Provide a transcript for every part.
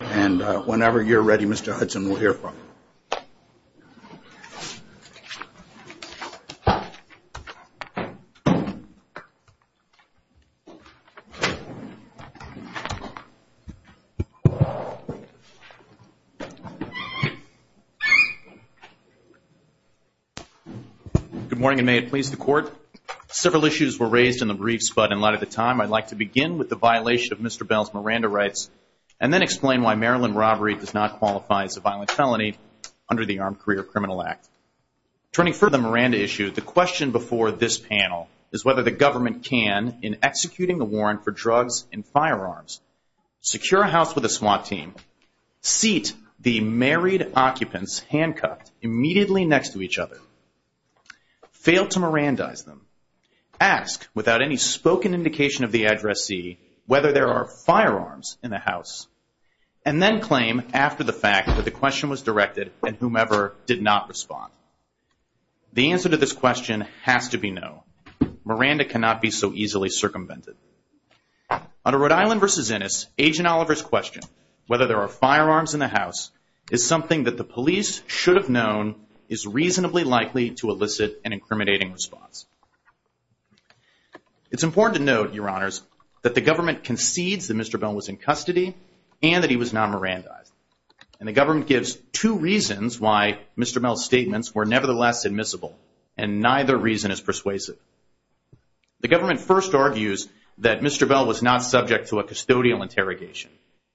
And whenever you're ready, Mr. Hudson, we'll hear from you. Good morning, and may it please the Court. Several issues were raised in the briefs, but in light of the time, I'd like to begin with the violation of Mr. Bell's Miranda rights and then explain why Maryland robbery does not qualify as a violent felony under the Armed Career Criminal Act. Turning further to the Miranda issue, the question before this panel is whether the government can, in executing the warrant for drugs and firearms, secure a house with a SWAT team, seat the married occupants handcuffed immediately next to each other, fail to Mirandize them, ask without any spoken indication of the addressee whether there are firearms in the house, and then claim after the fact that the question was directed and whomever did not respond. The answer to this question has to be no. Miranda cannot be so easily circumvented. Under Rhode Island v. Innis, Agent Oliver's question, whether there are firearms in the house, is something that the police should have known is reasonably likely to elicit an incriminating response. It's important to note, Your Honors, that the government concedes that Mr. Bell was in custody and that he was not Mirandized. And the government gives two reasons why Mr. Bell's statements were nevertheless admissible, and neither reason is persuasive. The government first argues that Mr. Bell was not subject to a custodial interrogation,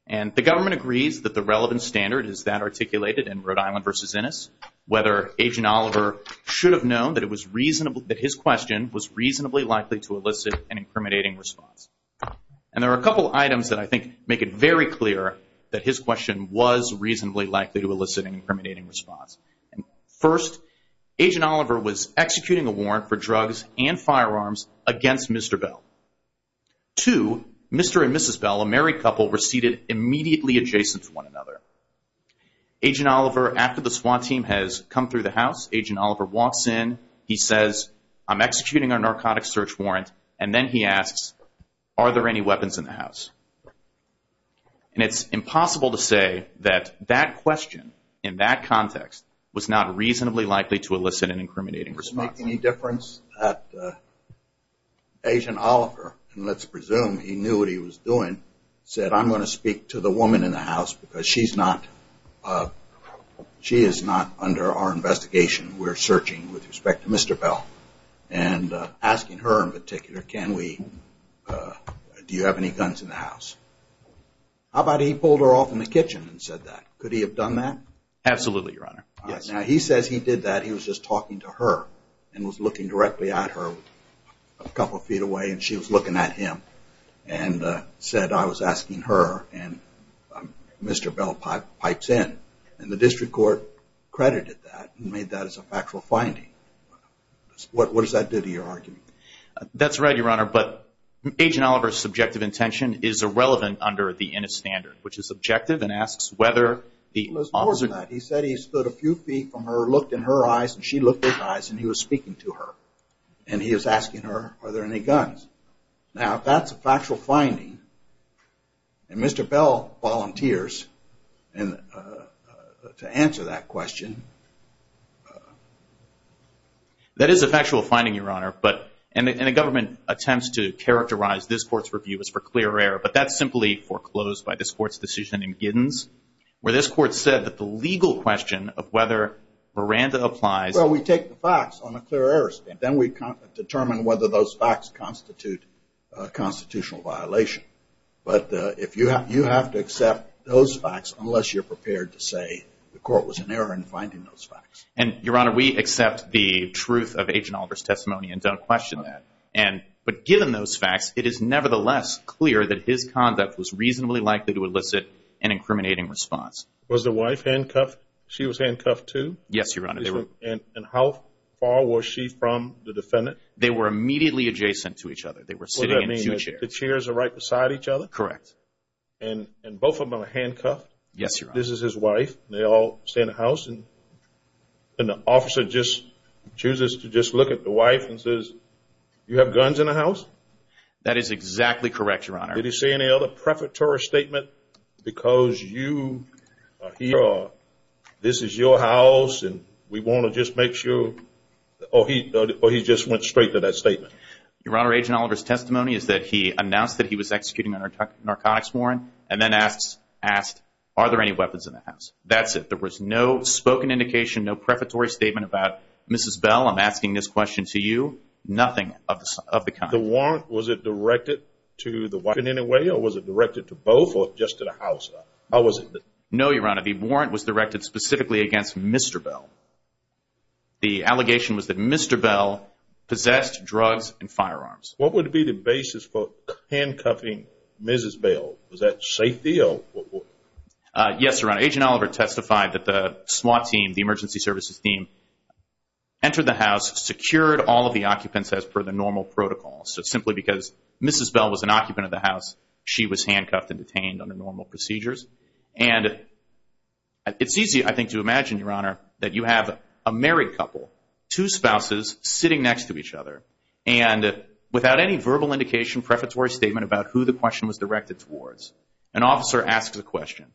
and the government agrees that the relevant standard is that articulated in Rhode Island v. Innis, whether Agent Oliver should have known that his question was reasonably likely to elicit an incriminating response. And there are a couple items that I think make it very clear that his question was reasonably likely to elicit an incriminating response. First, Agent Oliver was executing a warrant for drugs and firearms against Mr. Bell. Two, Mr. and Mrs. Bell, a married couple, were seated immediately adjacent to one another. Agent Oliver, after the SWAT team has come through the house, Agent Oliver walks in, he says, I'm executing a narcotics search warrant, and then he asks, are there any weapons in the house? And it's impossible to say that that question, in that context, was not reasonably likely to elicit an incriminating response. Does this make any difference that Agent Oliver, and let's presume he knew what he was doing, said, I'm going to speak to the woman in the house because she is not under our investigation. We're searching with respect to Mr. Bell, and asking her in particular, do you have any guns in the house? How about he pulled her off in the kitchen and said that? Could he have done that? Absolutely, Your Honor. Now, he says he did that, he was just talking to her, and was looking directly at her a couple of feet away, and she was looking at him, and said, I was asking her, and Mr. Bell pipes in. And the district court credited that and made that as a factual finding. What does that do to your argument? That's right, Your Honor, but Agent Oliver's subjective intention is irrelevant under the Innis standard, which is subjective and asks whether the officer He said he stood a few feet from her, looked in her eyes, and she looked in his eyes, and he was speaking to her. And he was asking her, are there any guns? Now, if that's a factual finding, and Mr. Bell volunteers to answer that question. That is a factual finding, Your Honor, and the government attempts to characterize this court's review as for clear error, but that's simply foreclosed by this court's decision in Giddens, where this court said that the legal question of whether Miranda applies Well, we take the facts on a clear error stand. Then we determine whether those facts constitute a constitutional violation. But you have to accept those facts unless you're prepared to say the court was in error in finding those facts. And, Your Honor, we accept the truth of Agent Oliver's testimony and don't question that. But given those facts, it is nevertheless clear that his conduct was reasonably likely to elicit an incriminating response. Was the wife handcuffed? She was handcuffed too? Yes, Your Honor. And how far was she from the defendant? They were immediately adjacent to each other. They were sitting in two chairs. The chairs are right beside each other? Correct. And both of them are handcuffed? Yes, Your Honor. This is his wife. They all stay in the house, and the officer just chooses to just look at the wife and says, You have guns in the house? That is exactly correct, Your Honor. Did he say any other prefatory statement? Because you are here, this is your house, and we want to just make sure. Or he just went straight to that statement? Your Honor, Agent Oliver's testimony is that he announced that he was executing a narcotics warrant, and then asked, Are there any weapons in the house? That's it. There was no spoken indication, no prefatory statement about, Mrs. Bell, I'm asking this question to you, nothing of the kind. The warrant, was it directed to the wife in any way, or was it directed to both, or just to the house? How was it? No, Your Honor. The warrant was directed specifically against Mr. Bell. The allegation was that Mr. Bell possessed drugs and firearms. What would be the basis for handcuffing Mrs. Bell? Was that safety? Yes, Your Honor. Agent Oliver testified that the SWAT team, the emergency services team, entered the house, secured all of the occupants as per the normal protocol. So simply because Mrs. Bell was an occupant of the house, she was handcuffed and detained under normal procedures. And it's easy, I think, to imagine, Your Honor, that you have a married couple, two spouses sitting next to each other, and without any verbal indication, prefatory statement about who the question was directed towards, an officer asks the question.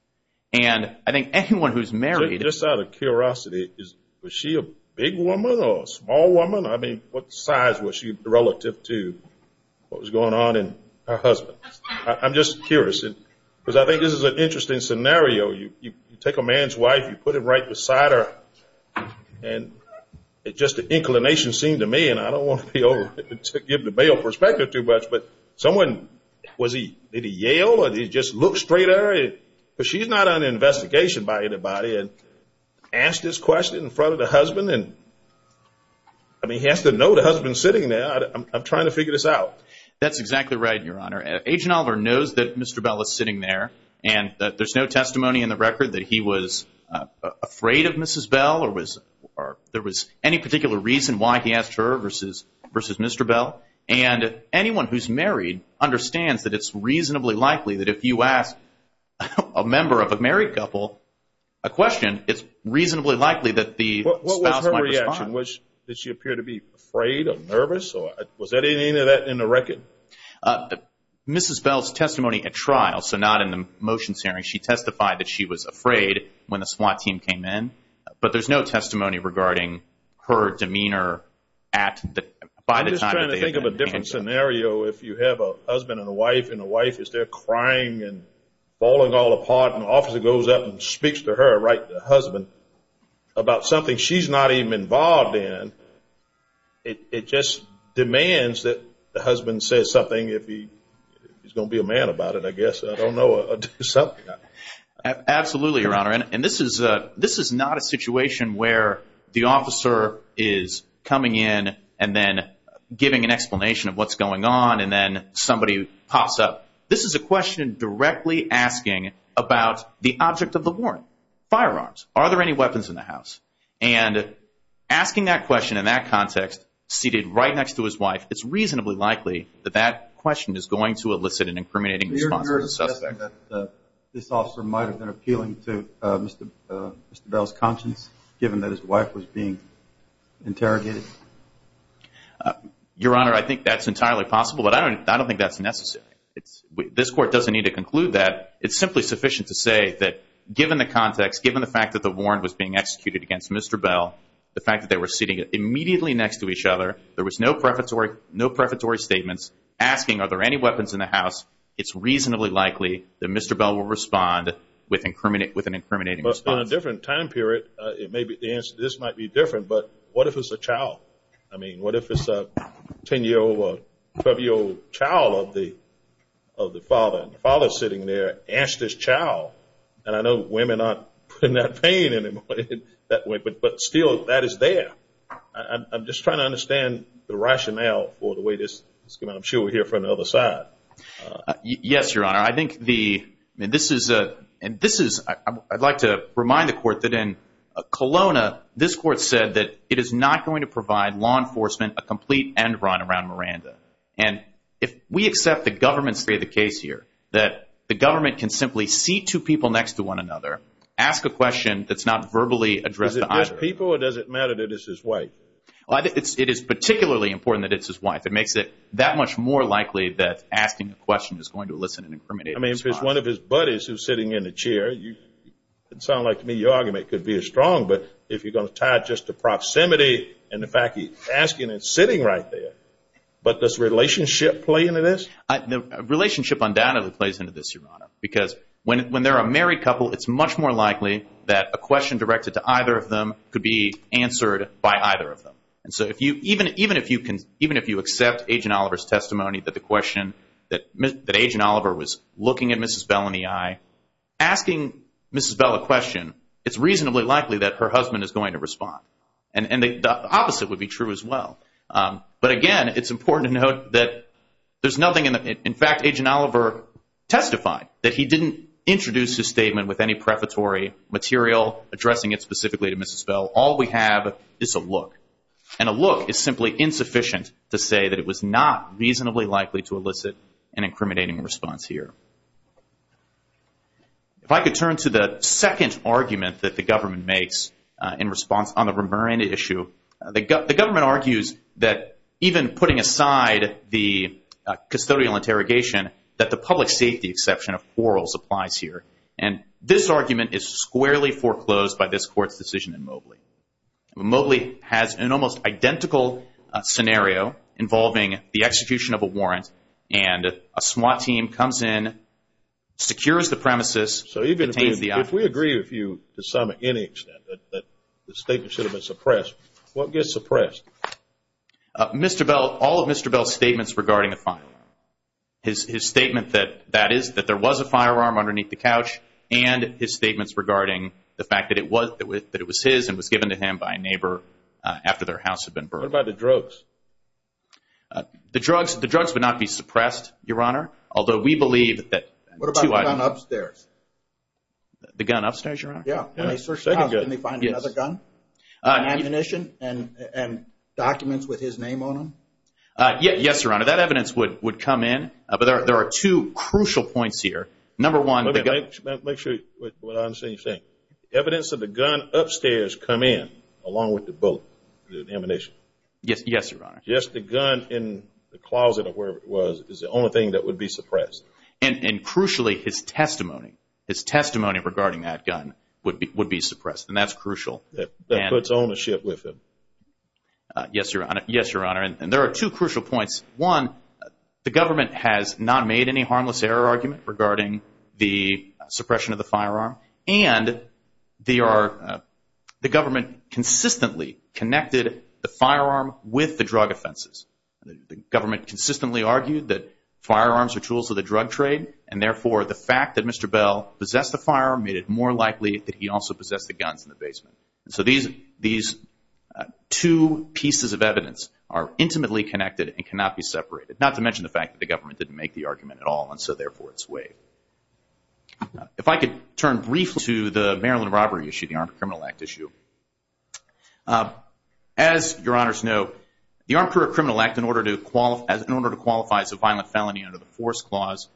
And I think anyone who's married. Just out of curiosity, was she a big woman or a small woman? I mean, what size was she relative to what was going on in her husband's? I'm just curious, because I think this is an interesting scenario. You take a man's wife, you put him right beside her, and it's just an inclination scene to me, and I don't want to give the bail perspective too much, but someone, was he, did he yell? Or did he just look straight at her? Because she's not under investigation by anybody. And asked this question in front of the husband, and, I mean, he has to know the husband's sitting there. I'm trying to figure this out. That's exactly right, Your Honor. Agent Oliver knows that Mr. Bell is sitting there, and there's no testimony in the record that he was afraid of Mrs. Bell or there was any particular reason why he asked her versus Mr. Bell. And anyone who's married understands that it's reasonably likely that if you ask a member of a married couple a question, it's reasonably likely that the spouse might respond. What was her reaction? Did she appear to be afraid or nervous? Or was there any of that in the record? Mrs. Bell's testimony at trial, so not in the motion hearing. She testified that she was afraid when the SWAT team came in, but there's no testimony regarding her demeanor at the time. I'm just trying to think of a different scenario if you have a husband and a wife, and the wife is there crying and falling all apart, and the officer goes up and speaks to her, right, the husband, about something she's not even involved in. It just demands that the husband says something if he's going to be a man about it, I guess. I don't know. Absolutely, Your Honor, and this is not a situation where the officer is coming in and then giving an explanation of what's going on, and then somebody pops up. This is a question directly asking about the object of the warrant, firearms. Are there any weapons in the house? And asking that question in that context, seated right next to his wife, it's reasonably likely that that question is going to elicit an incriminating response from the suspect. Do you regard the fact that this officer might have been appealing to Mr. Bell's conscience, given that his wife was being interrogated? Your Honor, I think that's entirely possible, but I don't think that's necessary. This Court doesn't need to conclude that. It's simply sufficient to say that given the context, given the fact that the warrant was being executed against Mr. Bell, the fact that they were sitting immediately next to each other, there was no prefatory statements, asking are there any weapons in the house, it's reasonably likely that Mr. Bell will respond with an incriminating response. But in a different time period, this might be different, but what if it's a child? I mean, what if it's a 10-year-old or 12-year-old child of the father? The father's sitting there, asked his child, and I know women aren't putting that pain in him that way, but still, that is there. I'm just trying to understand the rationale for the way this is going. I'm sure we'll hear from the other side. Yes, Your Honor. I'd like to remind the Court that in Kelowna, this Court said that it is not going to provide law enforcement a complete end run around Miranda. And if we accept the government's case here, that the government can simply seat two people next to one another, ask a question that's not verbally addressed to either of them. Is it just people or does it matter that it's his wife? It is particularly important that it's his wife. It makes it that much more likely that asking a question is going to elicit an incriminating response. I mean, if it's one of his buddies who's sitting in the chair, it sounds like to me your argument could be as strong, but if you're going to tie it just to proximity and the fact he's asking and sitting right there, but does relationship play into this? Relationship undoubtedly plays into this, Your Honor, because when they're a married couple, it's much more likely that a question directed to either of them could be answered by either of them. And so even if you accept Agent Oliver's testimony that the question, that Agent Oliver was looking at Mrs. Bell in the eye, asking Mrs. Bell a question, it's reasonably likely that her husband is going to respond. And the opposite would be true as well. But, again, it's important to note that there's nothing in the – in fact, Agent Oliver testified that he didn't introduce his statement with any prefatory material addressing it specifically to Mrs. Bell. All we have is a look. And a look is simply insufficient to say that it was not reasonably likely to elicit an incriminating response here. If I could turn to the second argument that the government makes in response on the Ramiran issue, the government argues that even putting aside the custodial interrogation, that the public safety exception of quarrels applies here. And this argument is squarely foreclosed by this Court's decision in Mobley. Mobley has an almost identical scenario involving the execution of a warrant, and a SWAT team comes in, secures the premises. So even if we agree with you to some, any extent, that the statement should have been suppressed, what gets suppressed? Mr. Bell, all of Mr. Bell's statements regarding the firearm, his statement that that is, that there was a firearm underneath the couch, and his statements regarding the fact that it was his and was given to him by a neighbor after their house had been burned. What about the drugs? The drugs would not be suppressed, Your Honor, although we believe that – What about the gun upstairs? The gun upstairs, Your Honor? Yeah. When they searched the house, didn't they find another gun, ammunition, and documents with his name on them? Yes, Your Honor. That evidence would come in, but there are two crucial points here. Number one – Let me make sure what I'm saying is saying. Evidence of the gun upstairs come in along with the bullet, the ammunition. Yes, Your Honor. Just the gun in the closet or wherever it was is the only thing that would be suppressed. And crucially, his testimony, his testimony regarding that gun would be suppressed, and that's crucial. That puts ownership with him. Yes, Your Honor. Yes, Your Honor, and there are two crucial points. One, the government has not made any harmless error argument regarding the suppression of the firearm, and the government consistently connected the firearm with the drug offenses. The government consistently argued that firearms are tools of the drug trade, and therefore the fact that Mr. Bell possessed a firearm made it more likely that he also possessed the guns in the basement. So these two pieces of evidence are intimately connected and cannot be separated, not to mention the fact that the government didn't make the argument at all, and so therefore it's waived. If I could turn briefly to the Maryland robbery issue, the Armed Criminal Act issue. As Your Honors know, the Armed Criminal Act, in order to qualify as a violent felony under the Force Clause,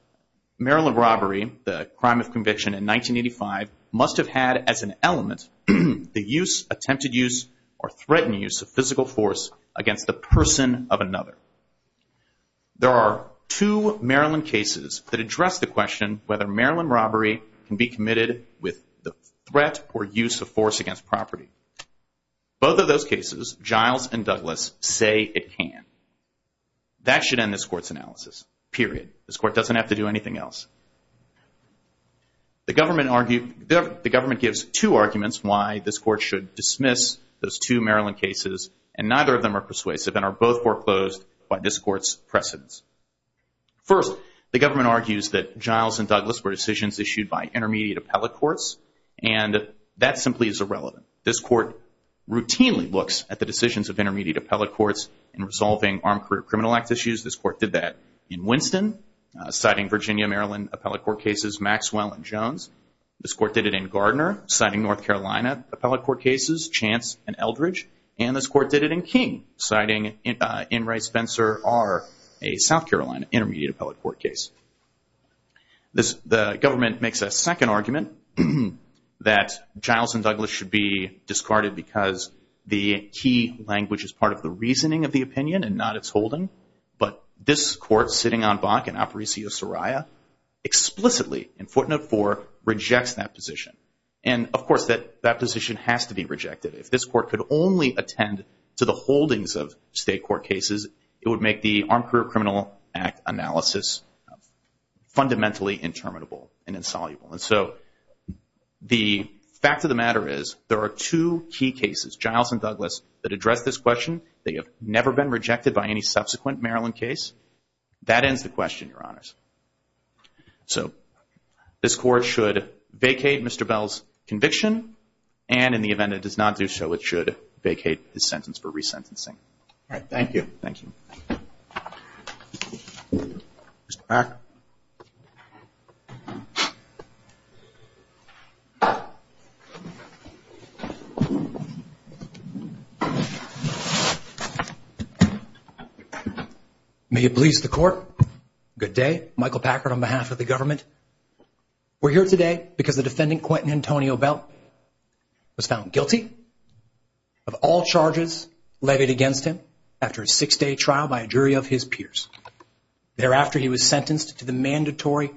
Maryland robbery, the crime of conviction in 1985, must have had as an element the use, attempted use, or threatened use of physical force against the person of another. There are two Maryland cases that address the question whether Maryland robbery can be committed with the threat or use of force against property. Both of those cases, Giles and Douglas, say it can. That should end this Court's analysis, period. This Court doesn't have to do anything else. The government gives two arguments why this Court should dismiss those two Maryland cases, and neither of them are persuasive and are both foreclosed by this Court's precedence. First, the government argues that Giles and Douglas were decisions issued by intermediate appellate courts, and that simply is irrelevant. This Court routinely looks at the decisions of intermediate appellate courts in resolving Armed Criminal Act issues. This Court did that in Winston, citing Virginia-Maryland appellate court cases, Maxwell and Jones. This Court did it in Gardner, citing North Carolina appellate court cases, Chance and Eldridge. And this Court did it in King, citing Inres Spencer R., a South Carolina intermediate appellate court case. The government makes a second argument that Giles and Douglas should be discarded because the key language is part of the reasoning of the opinion and not its holding. But this Court, sitting on Bach and Apparicio-Soraya, explicitly, in footnote 4, rejects that position. And, of course, that position has to be rejected. If this Court could only attend to the holdings of state court cases, it would make the Armed Career Criminal Act analysis fundamentally interminable and insoluble. And so the fact of the matter is there are two key cases, Giles and Douglas, that address this question. They have never been rejected by any subsequent Maryland case. That ends the question, Your Honors. So this Court should vacate Mr. Bell's conviction, and in the event it does not do so, it should vacate his sentence for resentencing. All right, thank you. Thank you. Mr. Packard. May it please the Court. Good day. Michael Packard on behalf of the government. We're here today because the defendant, Quentin Antonio Bell, was found guilty of all charges levied against him after a six-day trial by a jury of his peers. Thereafter, he was sentenced to the mandatory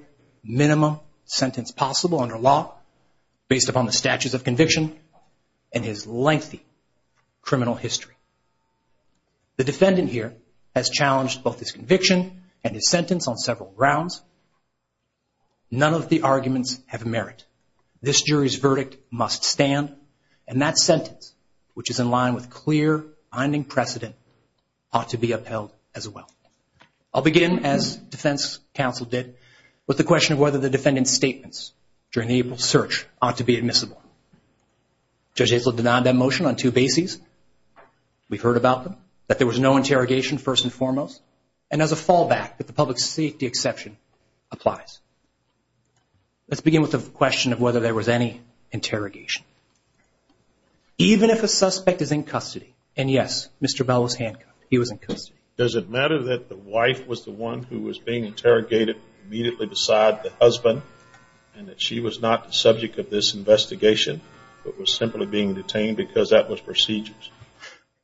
minimum sentence possible under law, based upon the statutes of conviction and his lengthy criminal history. The defendant here has challenged both his conviction and his sentence on several grounds. None of the arguments have merit. This jury's verdict must stand, and that sentence, which is in line with clear binding precedent, ought to be upheld as well. I'll begin, as defense counsel did, with the question of whether the defendant's statements during the April search ought to be admissible. Judge Haslip denied that motion on two bases. We've heard about them, that there was no interrogation first and foremost, and as a fallback that the public safety exception applies. Let's begin with the question of whether there was any interrogation. Even if a suspect is in custody, and yes, Mr. Bell was handcuffed. He was in custody. Does it matter that the wife was the one who was being interrogated immediately beside the husband, and that she was not the subject of this investigation, but was simply being detained because that was procedures?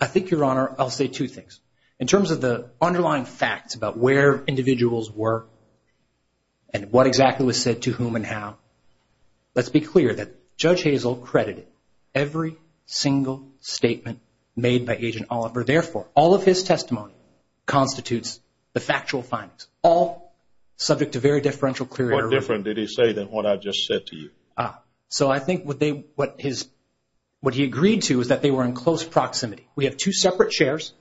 I think, Your Honor, I'll say two things. In terms of the underlying facts about where individuals were and what exactly was said to whom and how, let's be clear that Judge Haslip credited every single statement made by Agent Oliver. Therefore, all of his testimony constitutes the factual findings, all subject to very differential clear error. What different did he say than what I just said to you? So I think what he agreed to is that they were in close proximity. We have two separate chairs.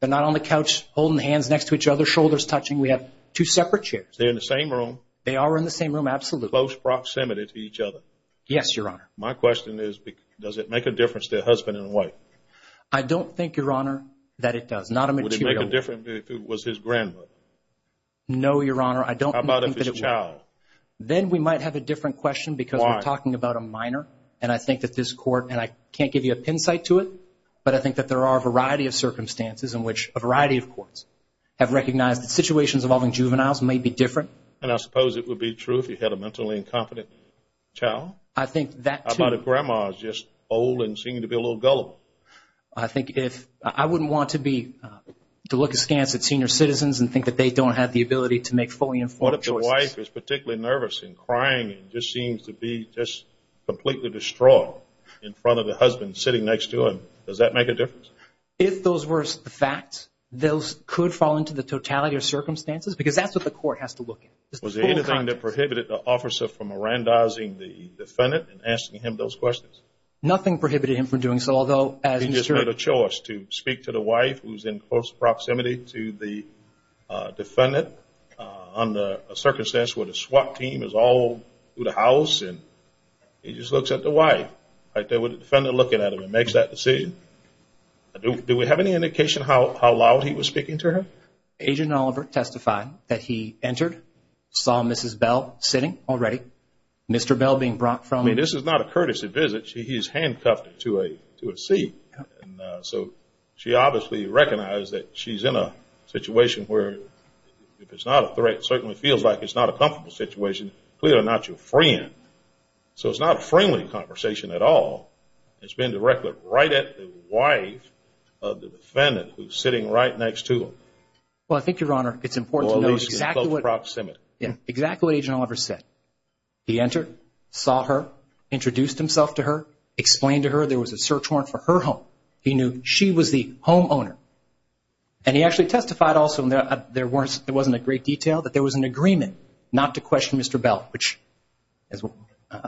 They're not on the couch holding hands next to each other, shoulders touching. We have two separate chairs. They're in the same room? They are in the same room, absolutely. Close proximity to each other? Yes, Your Honor. My question is, does it make a difference to the husband and wife? I don't think, Your Honor, that it does. Would it make a difference if it was his grandmother? No, Your Honor. How about if it was his child? Then we might have a different question because we're talking about a minor, and I think that this court, and I can't give you a pin site to it, but I think that there are a variety of circumstances in which a variety of courts have recognized that situations involving juveniles may be different. And I suppose it would be true if you had a mentally incompetent child? I think that, too. How about if grandma is just old and seemed to be a little gullible? I think if – I wouldn't want to be – to look askance at senior citizens and think that they don't have the ability to make fully informed choices. What if the wife is particularly nervous and crying and just seems to be just completely distraught in front of the husband sitting next to her? Does that make a difference? If those were the facts, those could fall into the totality of circumstances because that's what the court has to look at. Was there anything that prohibited the officer from arandozing the defendant and asking him those questions? Nothing prohibited him from doing so, although, as Mr. – He just made a choice to speak to the wife who's in close proximity to the defendant under a circumstance where the SWAT team is all through the house and he just looks at the wife right there with the defendant looking at him and makes that decision. Do we have any indication how loud he was speaking to her? Agent Oliver testified that he entered, saw Mrs. Bell sitting already, Mr. Bell being brought from – I mean, this is not a courtesy visit. He's handcuffed to a seat. So she obviously recognized that she's in a situation where, if it's not a threat, it certainly feels like it's not a comfortable situation, clearly not your friend. So it's not a friendly conversation at all. It's being directed right at the wife of the defendant who's sitting right next to him. Well, I think, Your Honor, it's important to know – Or at least in close proximity. Exactly what Agent Oliver said. He entered, saw her, introduced himself to her, explained to her there was a search warrant for her home. He knew she was the homeowner. And he actually testified also, and there wasn't a great detail, that there was an agreement not to question Mr. Bell.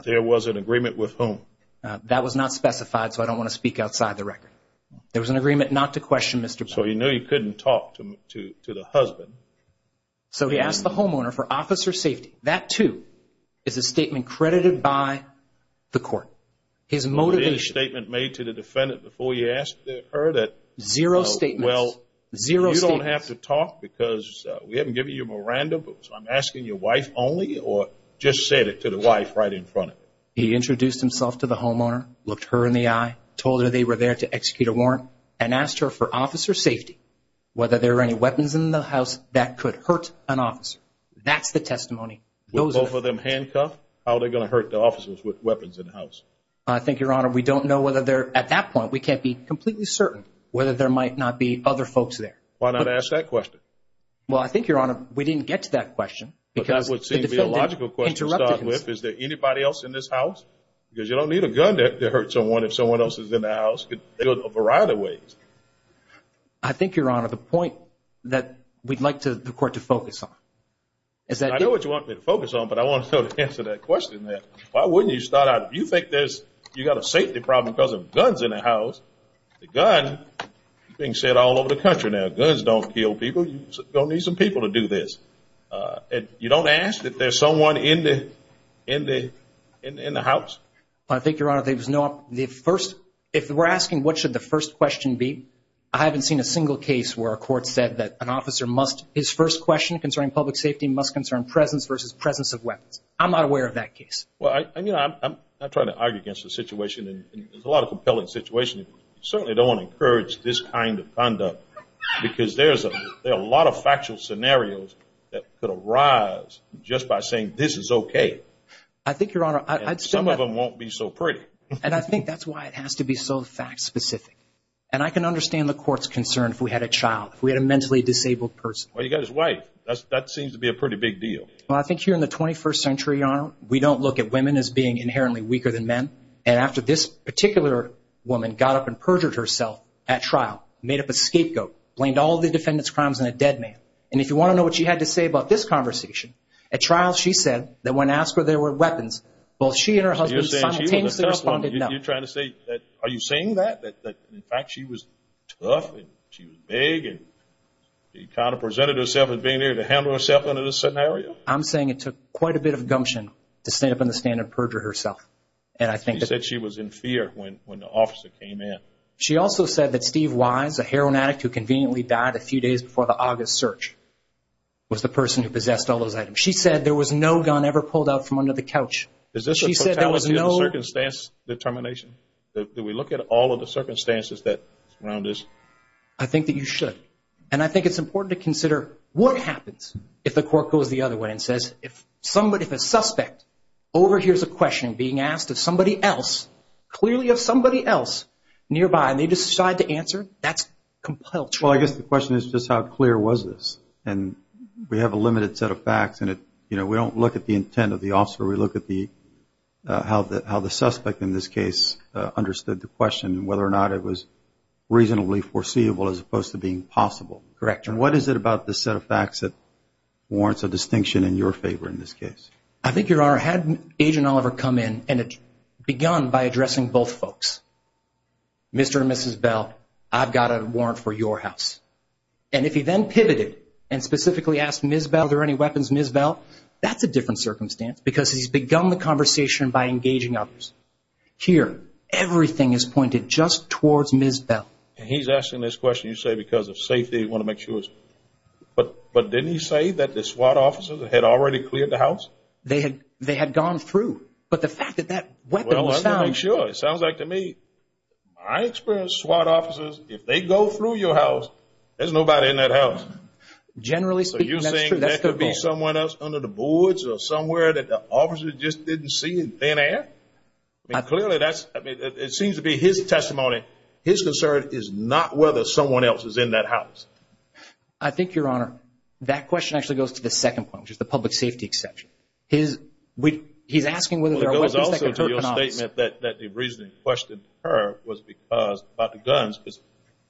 There was an agreement with whom? That was not specified, so I don't want to speak outside the record. There was an agreement not to question Mr. Bell. So he knew he couldn't talk to the husband. So he asked the homeowner for officer safety. That, too, is a statement credited by the court. His motivation – It was a statement made to the defendant before you asked her that – Zero statements. Well, you don't have to talk because we haven't given you a Miranda, but I'm asking your wife only, or just said it to the wife right in front of you. He introduced himself to the homeowner, looked her in the eye, told her they were there to execute a warrant, and asked her for officer safety, whether there were any weapons in the house that could hurt an officer. That's the testimony. With both of them handcuffed, how are they going to hurt the officers with weapons in the house? I think, Your Honor, we don't know whether they're – at that point, we can't be completely certain whether there might not be other folks there. Why not ask that question? Well, I think, Your Honor, we didn't get to that question. But that would seem to be a logical question to start with. Is there anybody else in this house? Because you don't need a gun to hurt someone if someone else is in the house. It could go a variety of ways. I think, Your Honor, the point that we'd like the court to focus on is that – I know what you want me to focus on, but I want to answer that question. Why wouldn't you start out – if you think you've got a safety problem because of guns in the house, the gun is being said all over the country now. Guns don't kill people. You don't need some people to do this. You don't ask that there's someone in the house? I think, Your Honor, there's no – the first – if we're asking what should the first question be, I haven't seen a single case where a court said that an officer must – in presence versus presence of weapons. I'm not aware of that case. Well, I'm not trying to argue against the situation. It's a lot of compelling situations. You certainly don't want to encourage this kind of conduct because there are a lot of factual scenarios that could arise just by saying this is okay. I think, Your Honor – And some of them won't be so pretty. And I think that's why it has to be so fact-specific. And I can understand the court's concern if we had a child, if we had a mentally disabled person. Well, you've got his wife. That seems to be a pretty big deal. Well, I think here in the 21st century, Your Honor, we don't look at women as being inherently weaker than men. And after this particular woman got up and perjured herself at trial, made up a scapegoat, blamed all the defendant's crimes on a dead man, and if you want to know what she had to say about this conversation, at trial she said that when asked whether there were weapons, both she and her husband simultaneously responded no. You're trying to say – are you saying that? That, in fact, she was tough and she was big and kind of presented herself as being able to handle herself under this scenario? I'm saying it took quite a bit of gumption to stand up in the stand and perjure herself. And I think that – She said she was in fear when the officer came in. She also said that Steve Wise, a heroin addict who conveniently died a few days before the August search, was the person who possessed all those items. She said there was no gun ever pulled out from under the couch. Is this a totality of the circumstance determination? Do we look at all of the circumstances that surround this? I think that you should. And I think it's important to consider what happens if the court goes the other way and says if a suspect overhears a question being asked of somebody else, clearly of somebody else nearby, and they decide to answer, that's compulsion. Well, I guess the question is just how clear was this? And we have a limited set of facts, and we don't look at the intent of the officer. We look at how the suspect in this case understood the question and whether or not it was reasonably foreseeable as opposed to being possible. Correct. And what is it about this set of facts that warrants a distinction in your favor in this case? I think, Your Honor, had Agent Oliver come in and begun by addressing both folks, Mr. and Mrs. Bell, I've got a warrant for your house, and if he then pivoted and specifically asked Ms. Bell, are there any weapons, Ms. Bell, that's a different circumstance because he's begun the conversation by engaging others. Here, everything is pointed just towards Ms. Bell. And he's asking this question, you say, because of safety, you want to make sure. But didn't he say that the SWAT officers had already cleared the house? They had gone through. But the fact that that weapon was found. Well, let me make sure. It sounds like to me, I experienced SWAT officers, if they go through your house, there's nobody in that house. Generally speaking, that's true. That could be someone else under the boards or somewhere that the officers just didn't see in thin air. Clearly, it seems to be his testimony. His concern is not whether someone else is in that house. I think, Your Honor, that question actually goes to the second point, which is the public safety exception. He's asking whether there are weapons that could hurt an officer. Well, it goes also to your statement that the reason he questioned her was because, about the guns,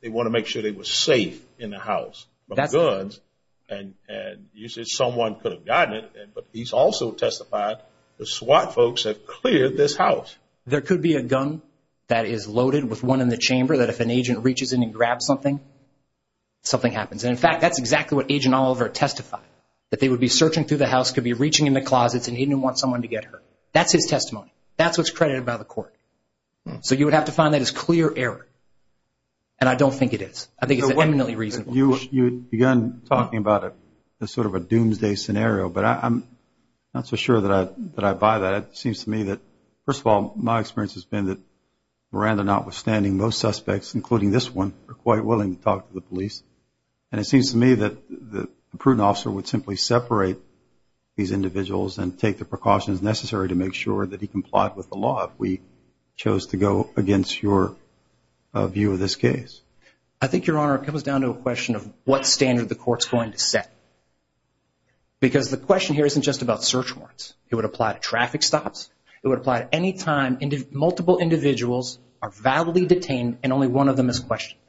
they want to make sure they were safe in the house. But guns, and you said someone could have gotten it, but he's also testified the SWAT folks have cleared this house. There could be a gun that is loaded with one in the chamber that if an agent reaches in and grabs something, something happens. And, in fact, that's exactly what Agent Oliver testified, that they would be searching through the house, could be reaching in the closets, and he didn't want someone to get hurt. That's his testimony. That's what's credited by the court. So you would have to find that as clear error. And I don't think it is. I think it's eminently reasonable. You began talking about sort of a doomsday scenario, but I'm not so sure that I buy that. It seems to me that, first of all, my experience has been that Miranda, notwithstanding, most suspects, including this one, are quite willing to talk to the police. And it seems to me that a prudent officer would simply separate these individuals and take the precautions necessary to make sure that he complied with the law if we chose to go against your view of this case. I think, Your Honor, it comes down to a question of what standard the court's going to set. Because the question here isn't just about search warrants. It would apply to traffic stops. It would apply to any time multiple individuals are validly detained and only one of them is questioned.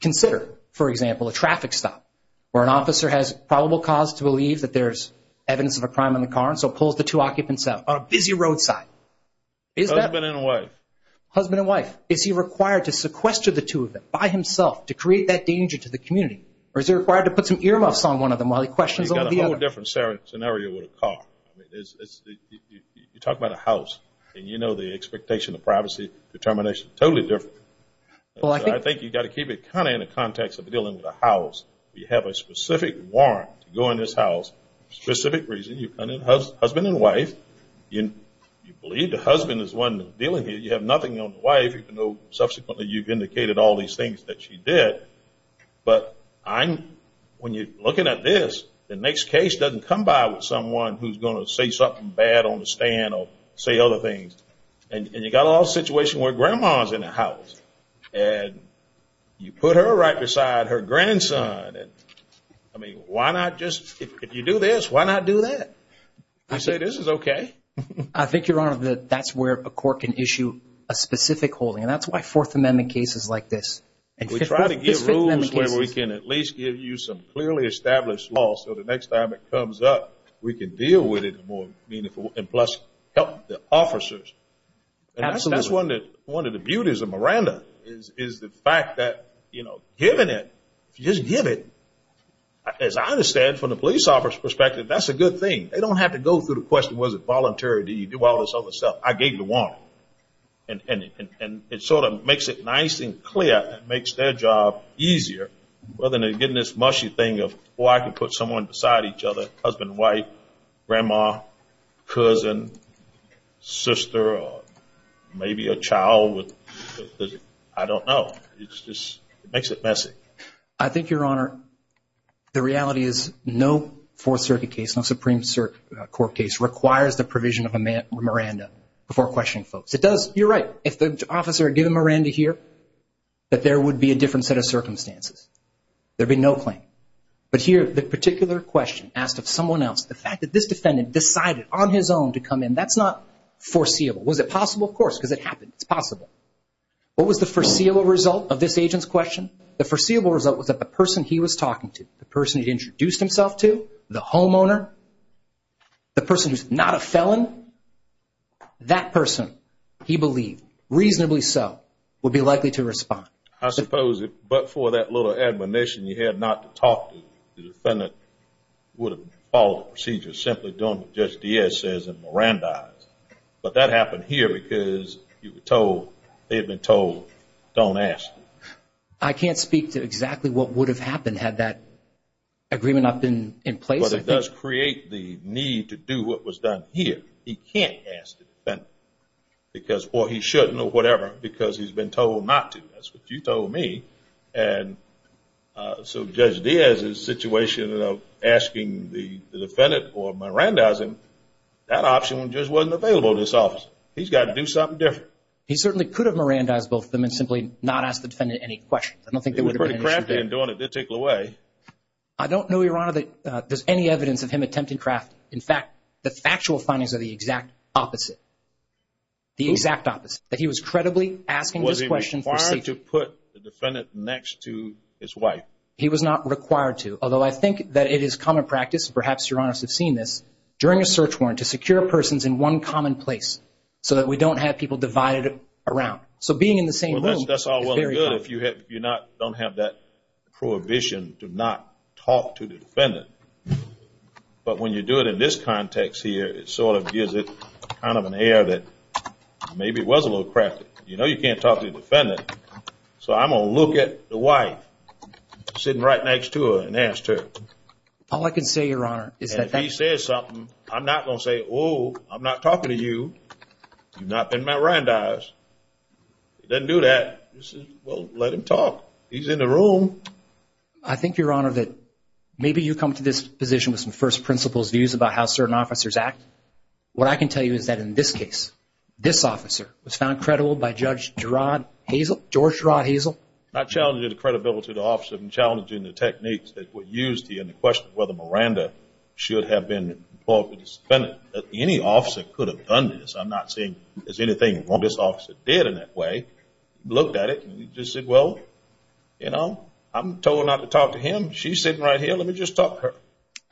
Consider, for example, a traffic stop where an officer has probable cause to believe that there's evidence of a crime in the car and so pulls the two occupants out on a busy roadside. Husband and wife. Husband and wife. Is he required to sequester the two of them by himself to create that danger to the community? Or is he required to put some earmuffs on one of them while he questions the other? You've got a whole different scenario with a car. You talk about a house, and you know the expectation of privacy, determination. Totally different. I think you've got to keep it kind of in the context of dealing with a house. You have a specific warrant to go in this house for a specific reason. You've got a husband and wife. You believe the husband is the one dealing with it. You have nothing on the wife, even though subsequently you've indicated all these things that she did. But when you're looking at this, the next case doesn't come by with someone who's going to say something bad on the stand or say other things. And you've got a whole situation where Grandma's in the house, and you put her right beside her grandson. I mean, why not just, if you do this, why not do that? I say this is okay. I think, Your Honor, that's where a court can issue a specific holding, and that's why Fourth Amendment cases like this. If we try to give rules where we can at least give you some clearly established law so the next time it comes up we can deal with it more meaningfully and plus help the officers. And that's one of the beauties of Miranda is the fact that, you know, given it, if you just give it, as I understand from the police officer's perspective, that's a good thing. They don't have to go through the question, was it voluntary? Did you do all this other stuff? I gave you one. And it sort of makes it nice and clear. It makes their job easier rather than getting this mushy thing of, oh, I can put someone beside each other, husband and wife, grandma, cousin, sister, or maybe a child. I don't know. It just makes it messy. I think, Your Honor, the reality is no Fourth Circuit case, no Supreme Court case requires the provision of a Miranda before questioning folks. It does. You're right. If the officer had given Miranda here, that there would be a different set of circumstances. There would be no claim. But here the particular question asked of someone else, the fact that this defendant decided on his own to come in, that's not foreseeable. Was it possible? Of course, because it happened. It's possible. What was the foreseeable result of this agent's question? The foreseeable result was that the person he was talking to, the person he introduced himself to, the homeowner, the person who's not a felon, that person, he believed, reasonably so, would be likely to respond. I suppose, but for that little admonition you had not to talk to, the defendant would have followed the procedure simply doing what Judge Diaz says and Mirandized. But that happened here because you were told, they had been told, don't ask. I can't speak to exactly what would have happened had that agreement not been in place. But it does create the need to do what was done here. He can't ask the defendant, or he shouldn't or whatever, because he's been told not to. That's what you told me. And so Judge Diaz's situation of asking the defendant or Mirandizing, that option just wasn't available to this officer. He's got to do something different. He certainly could have Mirandized both of them and simply not asked the defendant any questions. I don't think that would have been an issue. They were pretty crafty in doing it. They took it away. I don't know, Your Honor, that there's any evidence of him attempting crafty. In fact, the factual findings are the exact opposite, the exact opposite, that he was credibly asking those questions for safety. Was he required to put the defendant next to his wife? He was not required to, although I think that it is common practice, and perhaps Your Honors have seen this, during a search warrant to secure persons in one common place so that we don't have people divided around. So being in the same room is very common. Well, that's all well and good if you don't have that prohibition to not talk to the defendant. But when you do it in this context here, it sort of gives it kind of an air that maybe it was a little crafty. You know you can't talk to the defendant, so I'm going to look at the wife sitting right next to her and ask her. All I can say, Your Honor, is that… And if he says something, I'm not going to say, you've not been Mirandized. If he doesn't do that, well, let him talk. He's in the room. I think, Your Honor, that maybe you come to this position with some first principles views about how certain officers act. What I can tell you is that in this case, this officer was found credible by Judge Gerard Hazel, George Gerard Hazel. I challenge the credibility of the officer in challenging the techniques that were used here in the question of whether Miranda should have been involved with the defendant. I'm not saying that any officer could have done this. I'm not saying there's anything wrong this officer did in that way. Looked at it and just said, well, you know, I'm told not to talk to him. She's sitting right here. Let me just talk to her.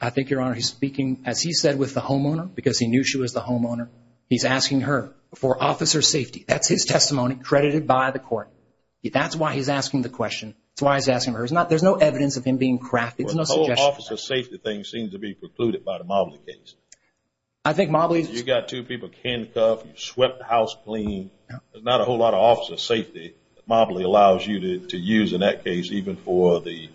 I think, Your Honor, he's speaking, as he said, with the homeowner because he knew she was the homeowner. He's asking her for officer safety. That's his testimony credited by the court. That's why he's asking the question. That's why he's asking her. There's no evidence of him being crafty. The whole officer safety thing seems to be precluded by the Mobley case. You've got two people handcuffed. You've swept the house clean. There's not a whole lot of officer safety that Mobley allows you to use in that case even for the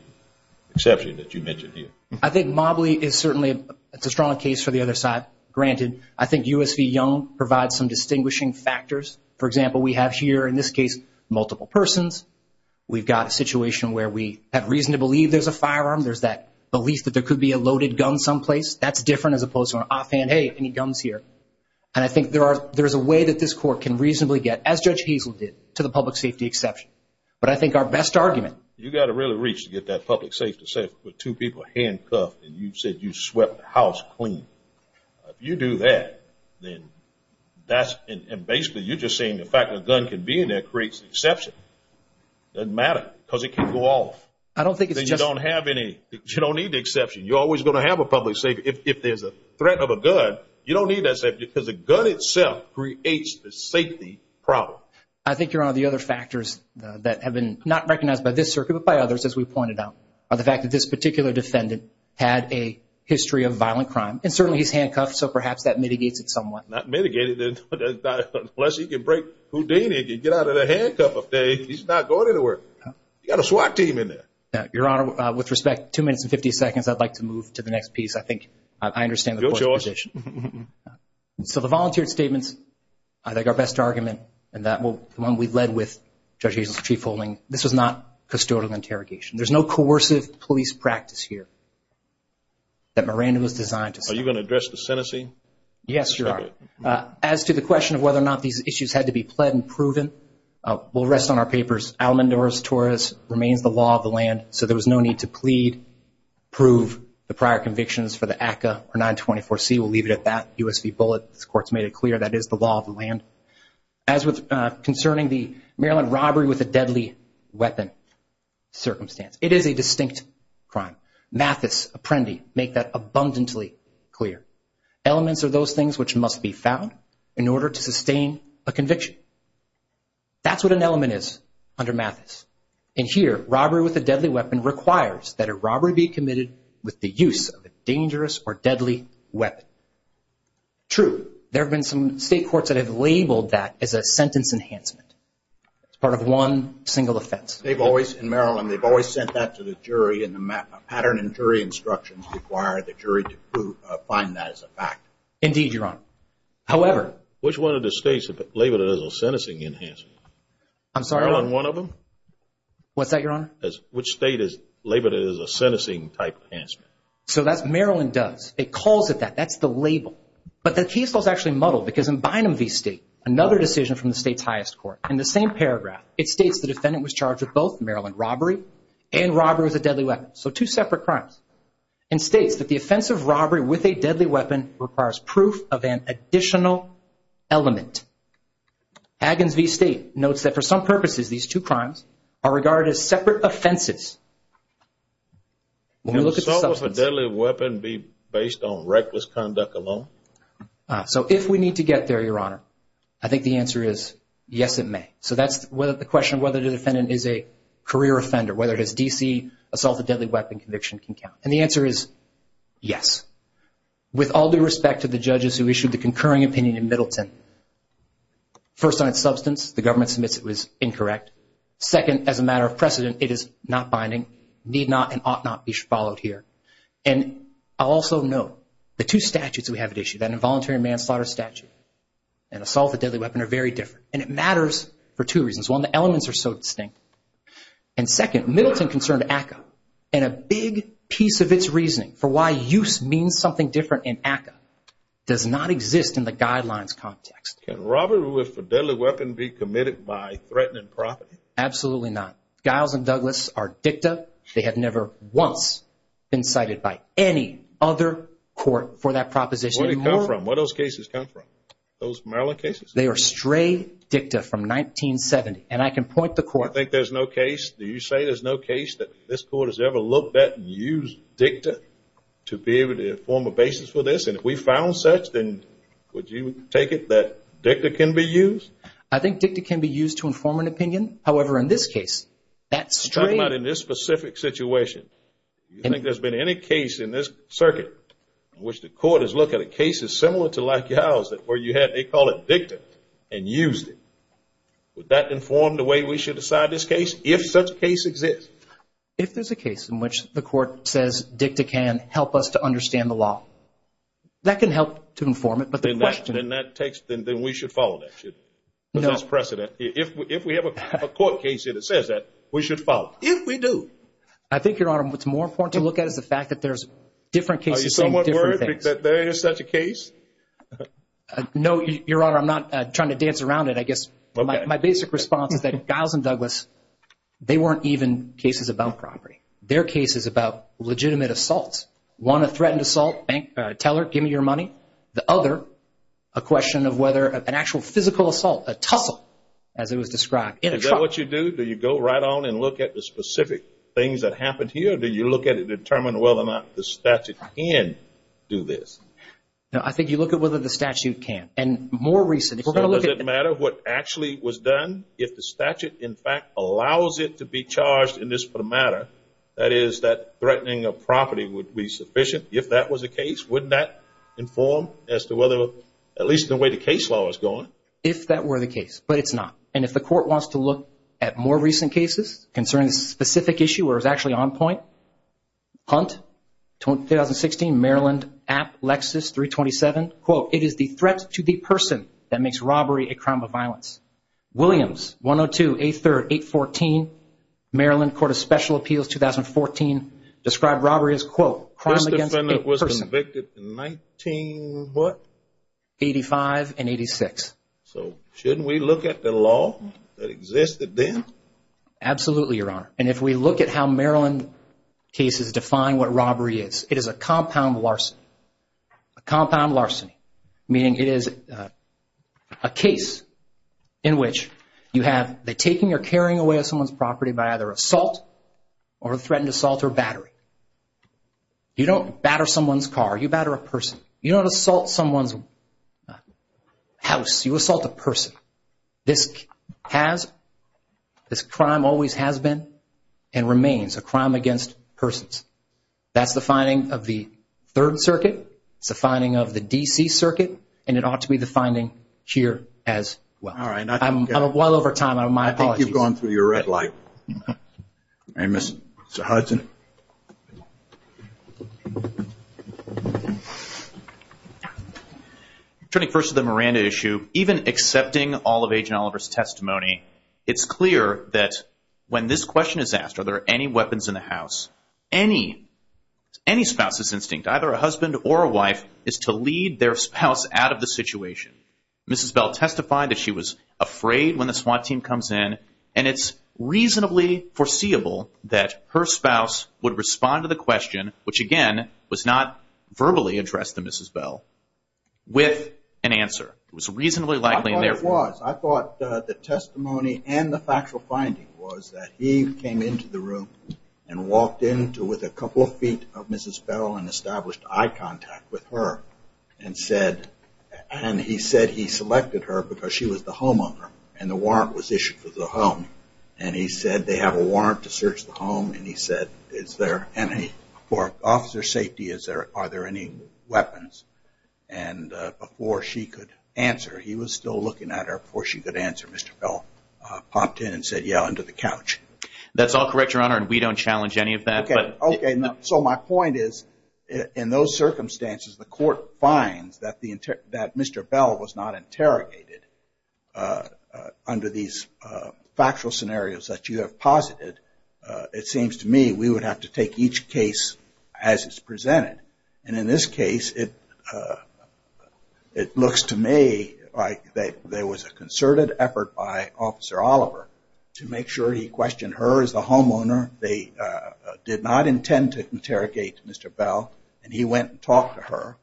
exception that you mentioned here. I think Mobley is certainly a strong case for the other side. Granted, I think U.S. v. Young provides some distinguishing factors. For example, we have here in this case multiple persons. We've got a situation where we have reason to believe there's a firearm. There's that belief that there could be a loaded gun someplace. That's different as opposed to an offhand, hey, any guns here. I think there is a way that this court can reasonably get, as Judge Hazel did, to the public safety exception. But I think our best argument. You've got to really reach to get that public safety, say with two people handcuffed and you said you swept the house clean. If you do that, then that's basically you're just saying the fact that a gun can be in there creates an exception. It doesn't matter because it can go off. I don't think it's just. You don't have any. You don't need the exception. You're always going to have a public safety. If there's a threat of a gun, you don't need that safety because the gun itself creates the safety problem. I think you're on the other factors that have been not recognized by this circuit but by others, as we pointed out, are the fact that this particular defendant had a history of violent crime. And certainly he's handcuffed, so perhaps that mitigates it somewhat. Not mitigated unless he can break Houdini and get out of the handcuff. He's not going anywhere. You've got a SWAT team in there. Your Honor, with respect, two minutes and 50 seconds. I'd like to move to the next piece. I think I understand the point of position. So the volunteer statements, I think our best argument, and the one we've led with Judge Hazel's chief holding, this was not custodial interrogation. There's no coercive police practice here that Miranda was designed to set up. Are you going to address the sentencing? Yes, Your Honor. As to the question of whether or not these issues had to be pled and proven, we'll rest on our papers. Alamondura's Taurus remains the law of the land, so there was no need to plead, prove the prior convictions for the ACCA or 924C. We'll leave it at that. USB bullet, this Court's made it clear that is the law of the land. As with concerning the Maryland robbery with a deadly weapon circumstance, it is a distinct crime. Mathis, Apprendi, make that abundantly clear. Elements are those things which must be found in order to sustain a conviction. That's what an element is under Mathis. And here, robbery with a deadly weapon requires that a robbery be committed with the use of a dangerous or deadly weapon. True, there have been some state courts that have labeled that as a sentence enhancement. It's part of one single offense. They've always, in Maryland, they've always sent that to the jury, and the pattern in jury instructions require the jury to find that as a fact. Indeed, Your Honor. However. Which one of the states have labeled it as a sentencing enhancement? I'm sorry? Maryland, one of them? What's that, Your Honor? Which state has labeled it as a sentencing type enhancement? So that's Maryland does. It calls it that. That's the label. But the case was actually muddled because in Bynum v. State, another decision from the state's highest court, in the same paragraph, it states the defendant was charged with both Maryland robbery and robbery with a deadly weapon. So two separate crimes. And states that the offense of robbery with a deadly weapon requires proof of an additional element. Haggins v. State notes that for some purposes, these two crimes are regarded as separate offenses. Can assault with a deadly weapon be based on reckless conduct alone? So if we need to get there, Your Honor, I think the answer is yes, it may. So that's the question of whether the defendant is a career offender, whether it is D.C., assault with a deadly weapon conviction can count. And the answer is yes. With all due respect to the judges who issued the concurring opinion in Middleton, first on its substance, the government submits it was incorrect. Second, as a matter of precedent, it is not binding, need not, and ought not be followed here. And I'll also note the two statutes we have at issue, that involuntary manslaughter statute and assault with a deadly weapon are very different. And it matters for two reasons. One, the elements are so distinct. And second, Middleton concerned ACCA. And a big piece of its reasoning for why use means something different in ACCA does not exist in the guidelines context. Can robbery with a deadly weapon be committed by threatening property? Absolutely not. Giles and Douglas are dicta. They have never once been cited by any other court for that proposition. Where do they come from? Where do those cases come from, those Maryland cases? They are stray dicta from 1970. And I can point the court. You think there's no case? Do you say there's no case that this court has ever looked at and used dicta to be able to form a basis for this? And if we found such, then would you take it that dicta can be used? I think dicta can be used to inform an opinion. However, in this case, that stray. I'm talking about in this specific situation. You think there's been any case in this circuit in which the court has looked at a case similar to like Giles where you had, they call it dicta, and used it. Would that inform the way we should decide this case if such a case exists? If there's a case in which the court says dicta can help us to understand the law, that can help to inform it. But the question is. Then we should follow that. There's precedent. If we have a court case that says that, we should follow it. If we do. I think, Your Honor, what's more important to look at is the fact that there's different cases saying different things. Do you think that there is such a case? No, Your Honor. I'm not trying to dance around it. I guess my basic response is that Giles and Douglas, they weren't even cases about property. Their case is about legitimate assaults. One, a threatened assault, tell her, give me your money. The other, a question of whether an actual physical assault, a tussle, as it was described. Is that what you do? Do you go right on and look at the specific things that happened here? Or do you look at it and determine whether or not the statute can do this? No, I think you look at whether the statute can. And more recently, if we're going to look at it. So does it matter what actually was done? If the statute, in fact, allows it to be charged in this matter, that is that threatening of property would be sufficient. If that was the case, wouldn't that inform as to whether, at least the way the case law is going? If that were the case. But it's not. And if the court wants to look at more recent cases, concerning a specific issue where it was actually on point. Hunt, 2016, Maryland, App, Lexis, 327. Quote, it is the threat to the person that makes robbery a crime of violence. Williams, 102, 8-3rd, 8-14, Maryland, Court of Special Appeals, 2014. Described robbery as, quote, crime against a person. First offender was convicted in 19 what? 85 and 86. So shouldn't we look at the law that existed then? Absolutely, Your Honor. And if we look at how Maryland cases define what robbery is, it is a compound larceny. A compound larceny. Meaning it is a case in which you have the taking or carrying away of someone's property by either assault or a threatened assault or battery. You don't batter someone's car. You batter a person. You don't assault someone's house. You assault a person. This has, this crime always has been and remains a crime against persons. That's the finding of the Third Circuit. It's the finding of the D.C. Circuit. And it ought to be the finding here as well. All right. I'm well over time. My apologies. I think you've gone through your red light. All right, Mr. Hudson. Turning first to the Miranda issue. Even accepting all of Agent Oliver's testimony, it's clear that when this question is asked, are there any weapons in the house, any spouse's instinct, either a husband or a wife, is to lead their spouse out of the situation. Mrs. Bell testified that she was afraid when the SWAT team comes in. And it's reasonably foreseeable that her spouse would respond to the question, which again was not verbally addressed to Mrs. Bell, with an answer. It was reasonably likely. I thought it was. I thought the testimony and the factual finding was that he came into the room and walked in with a couple of feet of Mrs. Bell and established eye contact with her and he said he selected her because she was the homeowner and the warrant was issued for the home. And he said they have a warrant to search the home and he said, for officer safety, are there any weapons? And before she could answer, he was still looking at her. Before she could answer, Mr. Bell popped in and said, yeah, under the couch. That's all correct, Your Honor, and we don't challenge any of that. Okay. So my point is, in those circumstances, the court finds that Mr. Bell was not interrogated. Under these factual scenarios that you have posited, it seems to me we would have to take each case as it's presented. And in this case, it looks to me like there was a concerted effort by Officer Oliver to make sure he questioned her as the homeowner. They did not intend to interrogate Mr. Bell and he went and talked to her.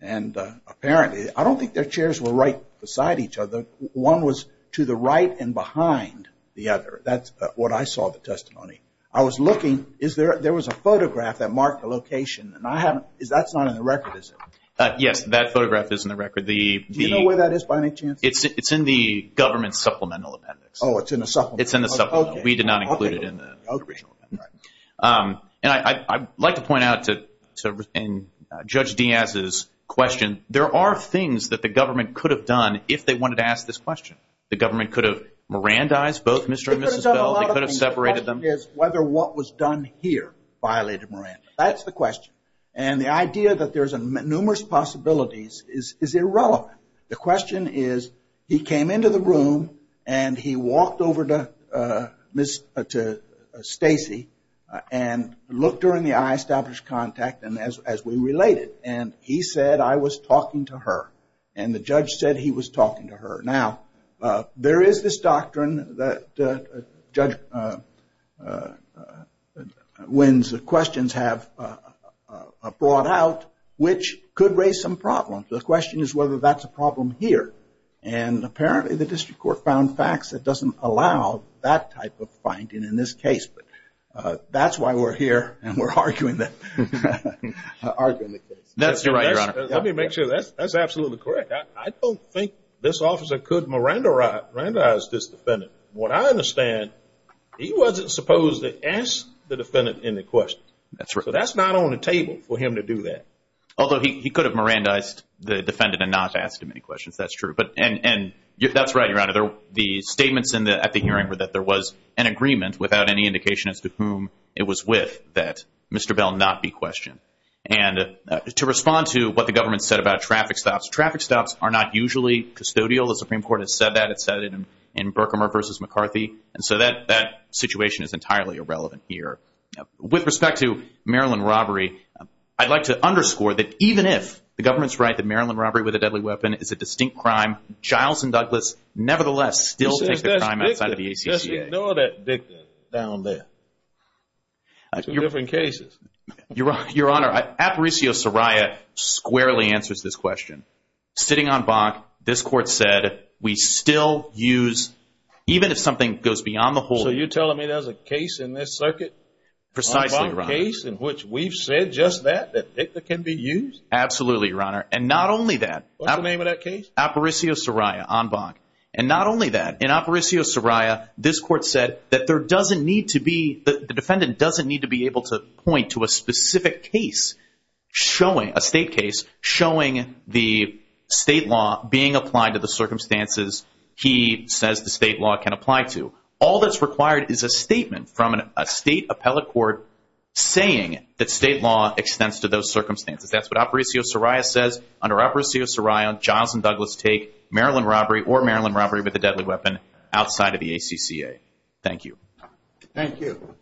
And apparently, I don't think their chairs were right beside each other. One was to the right and behind the other. That's what I saw in the testimony. I was looking. There was a photograph that marked the location. That's not in the record, is it? Yes, that photograph is in the record. Do you know where that is by any chance? It's in the government supplemental appendix. Oh, it's in the supplemental. It's in the supplemental. We did not include it in the original appendix. And I'd like to point out to Judge Diaz's question, there are things that the government could have done if they wanted to ask this question. The government could have Mirandized both Mr. and Mrs. Bell. They could have separated them. The question is whether what was done here violated Miranda. That's the question. And the idea that there's numerous possibilities is irrelevant. The question is he came into the room and he walked over to Stacy and looked her in the eye, established contact, and as we related, and he said, I was talking to her. And the judge said he was talking to her. Now, there is this doctrine that Judge Wynn's questions have brought out, which could raise some problems. The question is whether that's a problem here. And apparently the district court found facts that doesn't allow that type of finding in this case. But that's why we're here and we're arguing the case. That's right, Your Honor. Let me make sure that's absolutely correct. I don't think this officer could Mirandize this defendant. From what I understand, he wasn't supposed to ask the defendant any questions. That's right. So that's not on the table for him to do that. Although he could have Mirandized the defendant and not asked him any questions, that's true. And that's right, Your Honor. The statements at the hearing were that there was an agreement, without any indication as to whom it was with, that Mr. Bell not be questioned. And to respond to what the government said about traffic stops, traffic stops are not usually custodial. The Supreme Court has said that. It said it in Berkmer v. McCarthy. And so that situation is entirely irrelevant here. With respect to Maryland robbery, I'd like to underscore that even if the government's right that Maryland robbery with a deadly weapon is a distinct crime, Giles and Douglas nevertheless still take the crime outside of the ACCA. Just ignore that dictum down there. Two different cases. Your Honor, Aparicio Soraya squarely answers this question. Sitting on Bach, this Court said we still use, even if something goes beyond the whole. So you're telling me there's a case in this circuit? Precisely, Your Honor. A case in which we've said just that, that dictum can be used? Absolutely, Your Honor. And not only that. What's the name of that case? Aparicio Soraya on Bach. And not only that. In Aparicio Soraya, this Court said that there doesn't need to be, the defendant doesn't need to be able to point to a specific case showing, a state case, showing the state law being applied to the circumstances he says the state law can apply to. All that's required is a statement from a state appellate court saying that state law extends to those circumstances. That's what Aparicio Soraya says. Under Aparicio Soraya, Giles and Douglas take Maryland robbery or Maryland robbery with a deadly weapon outside of the ACCA. Thank you. Thank you.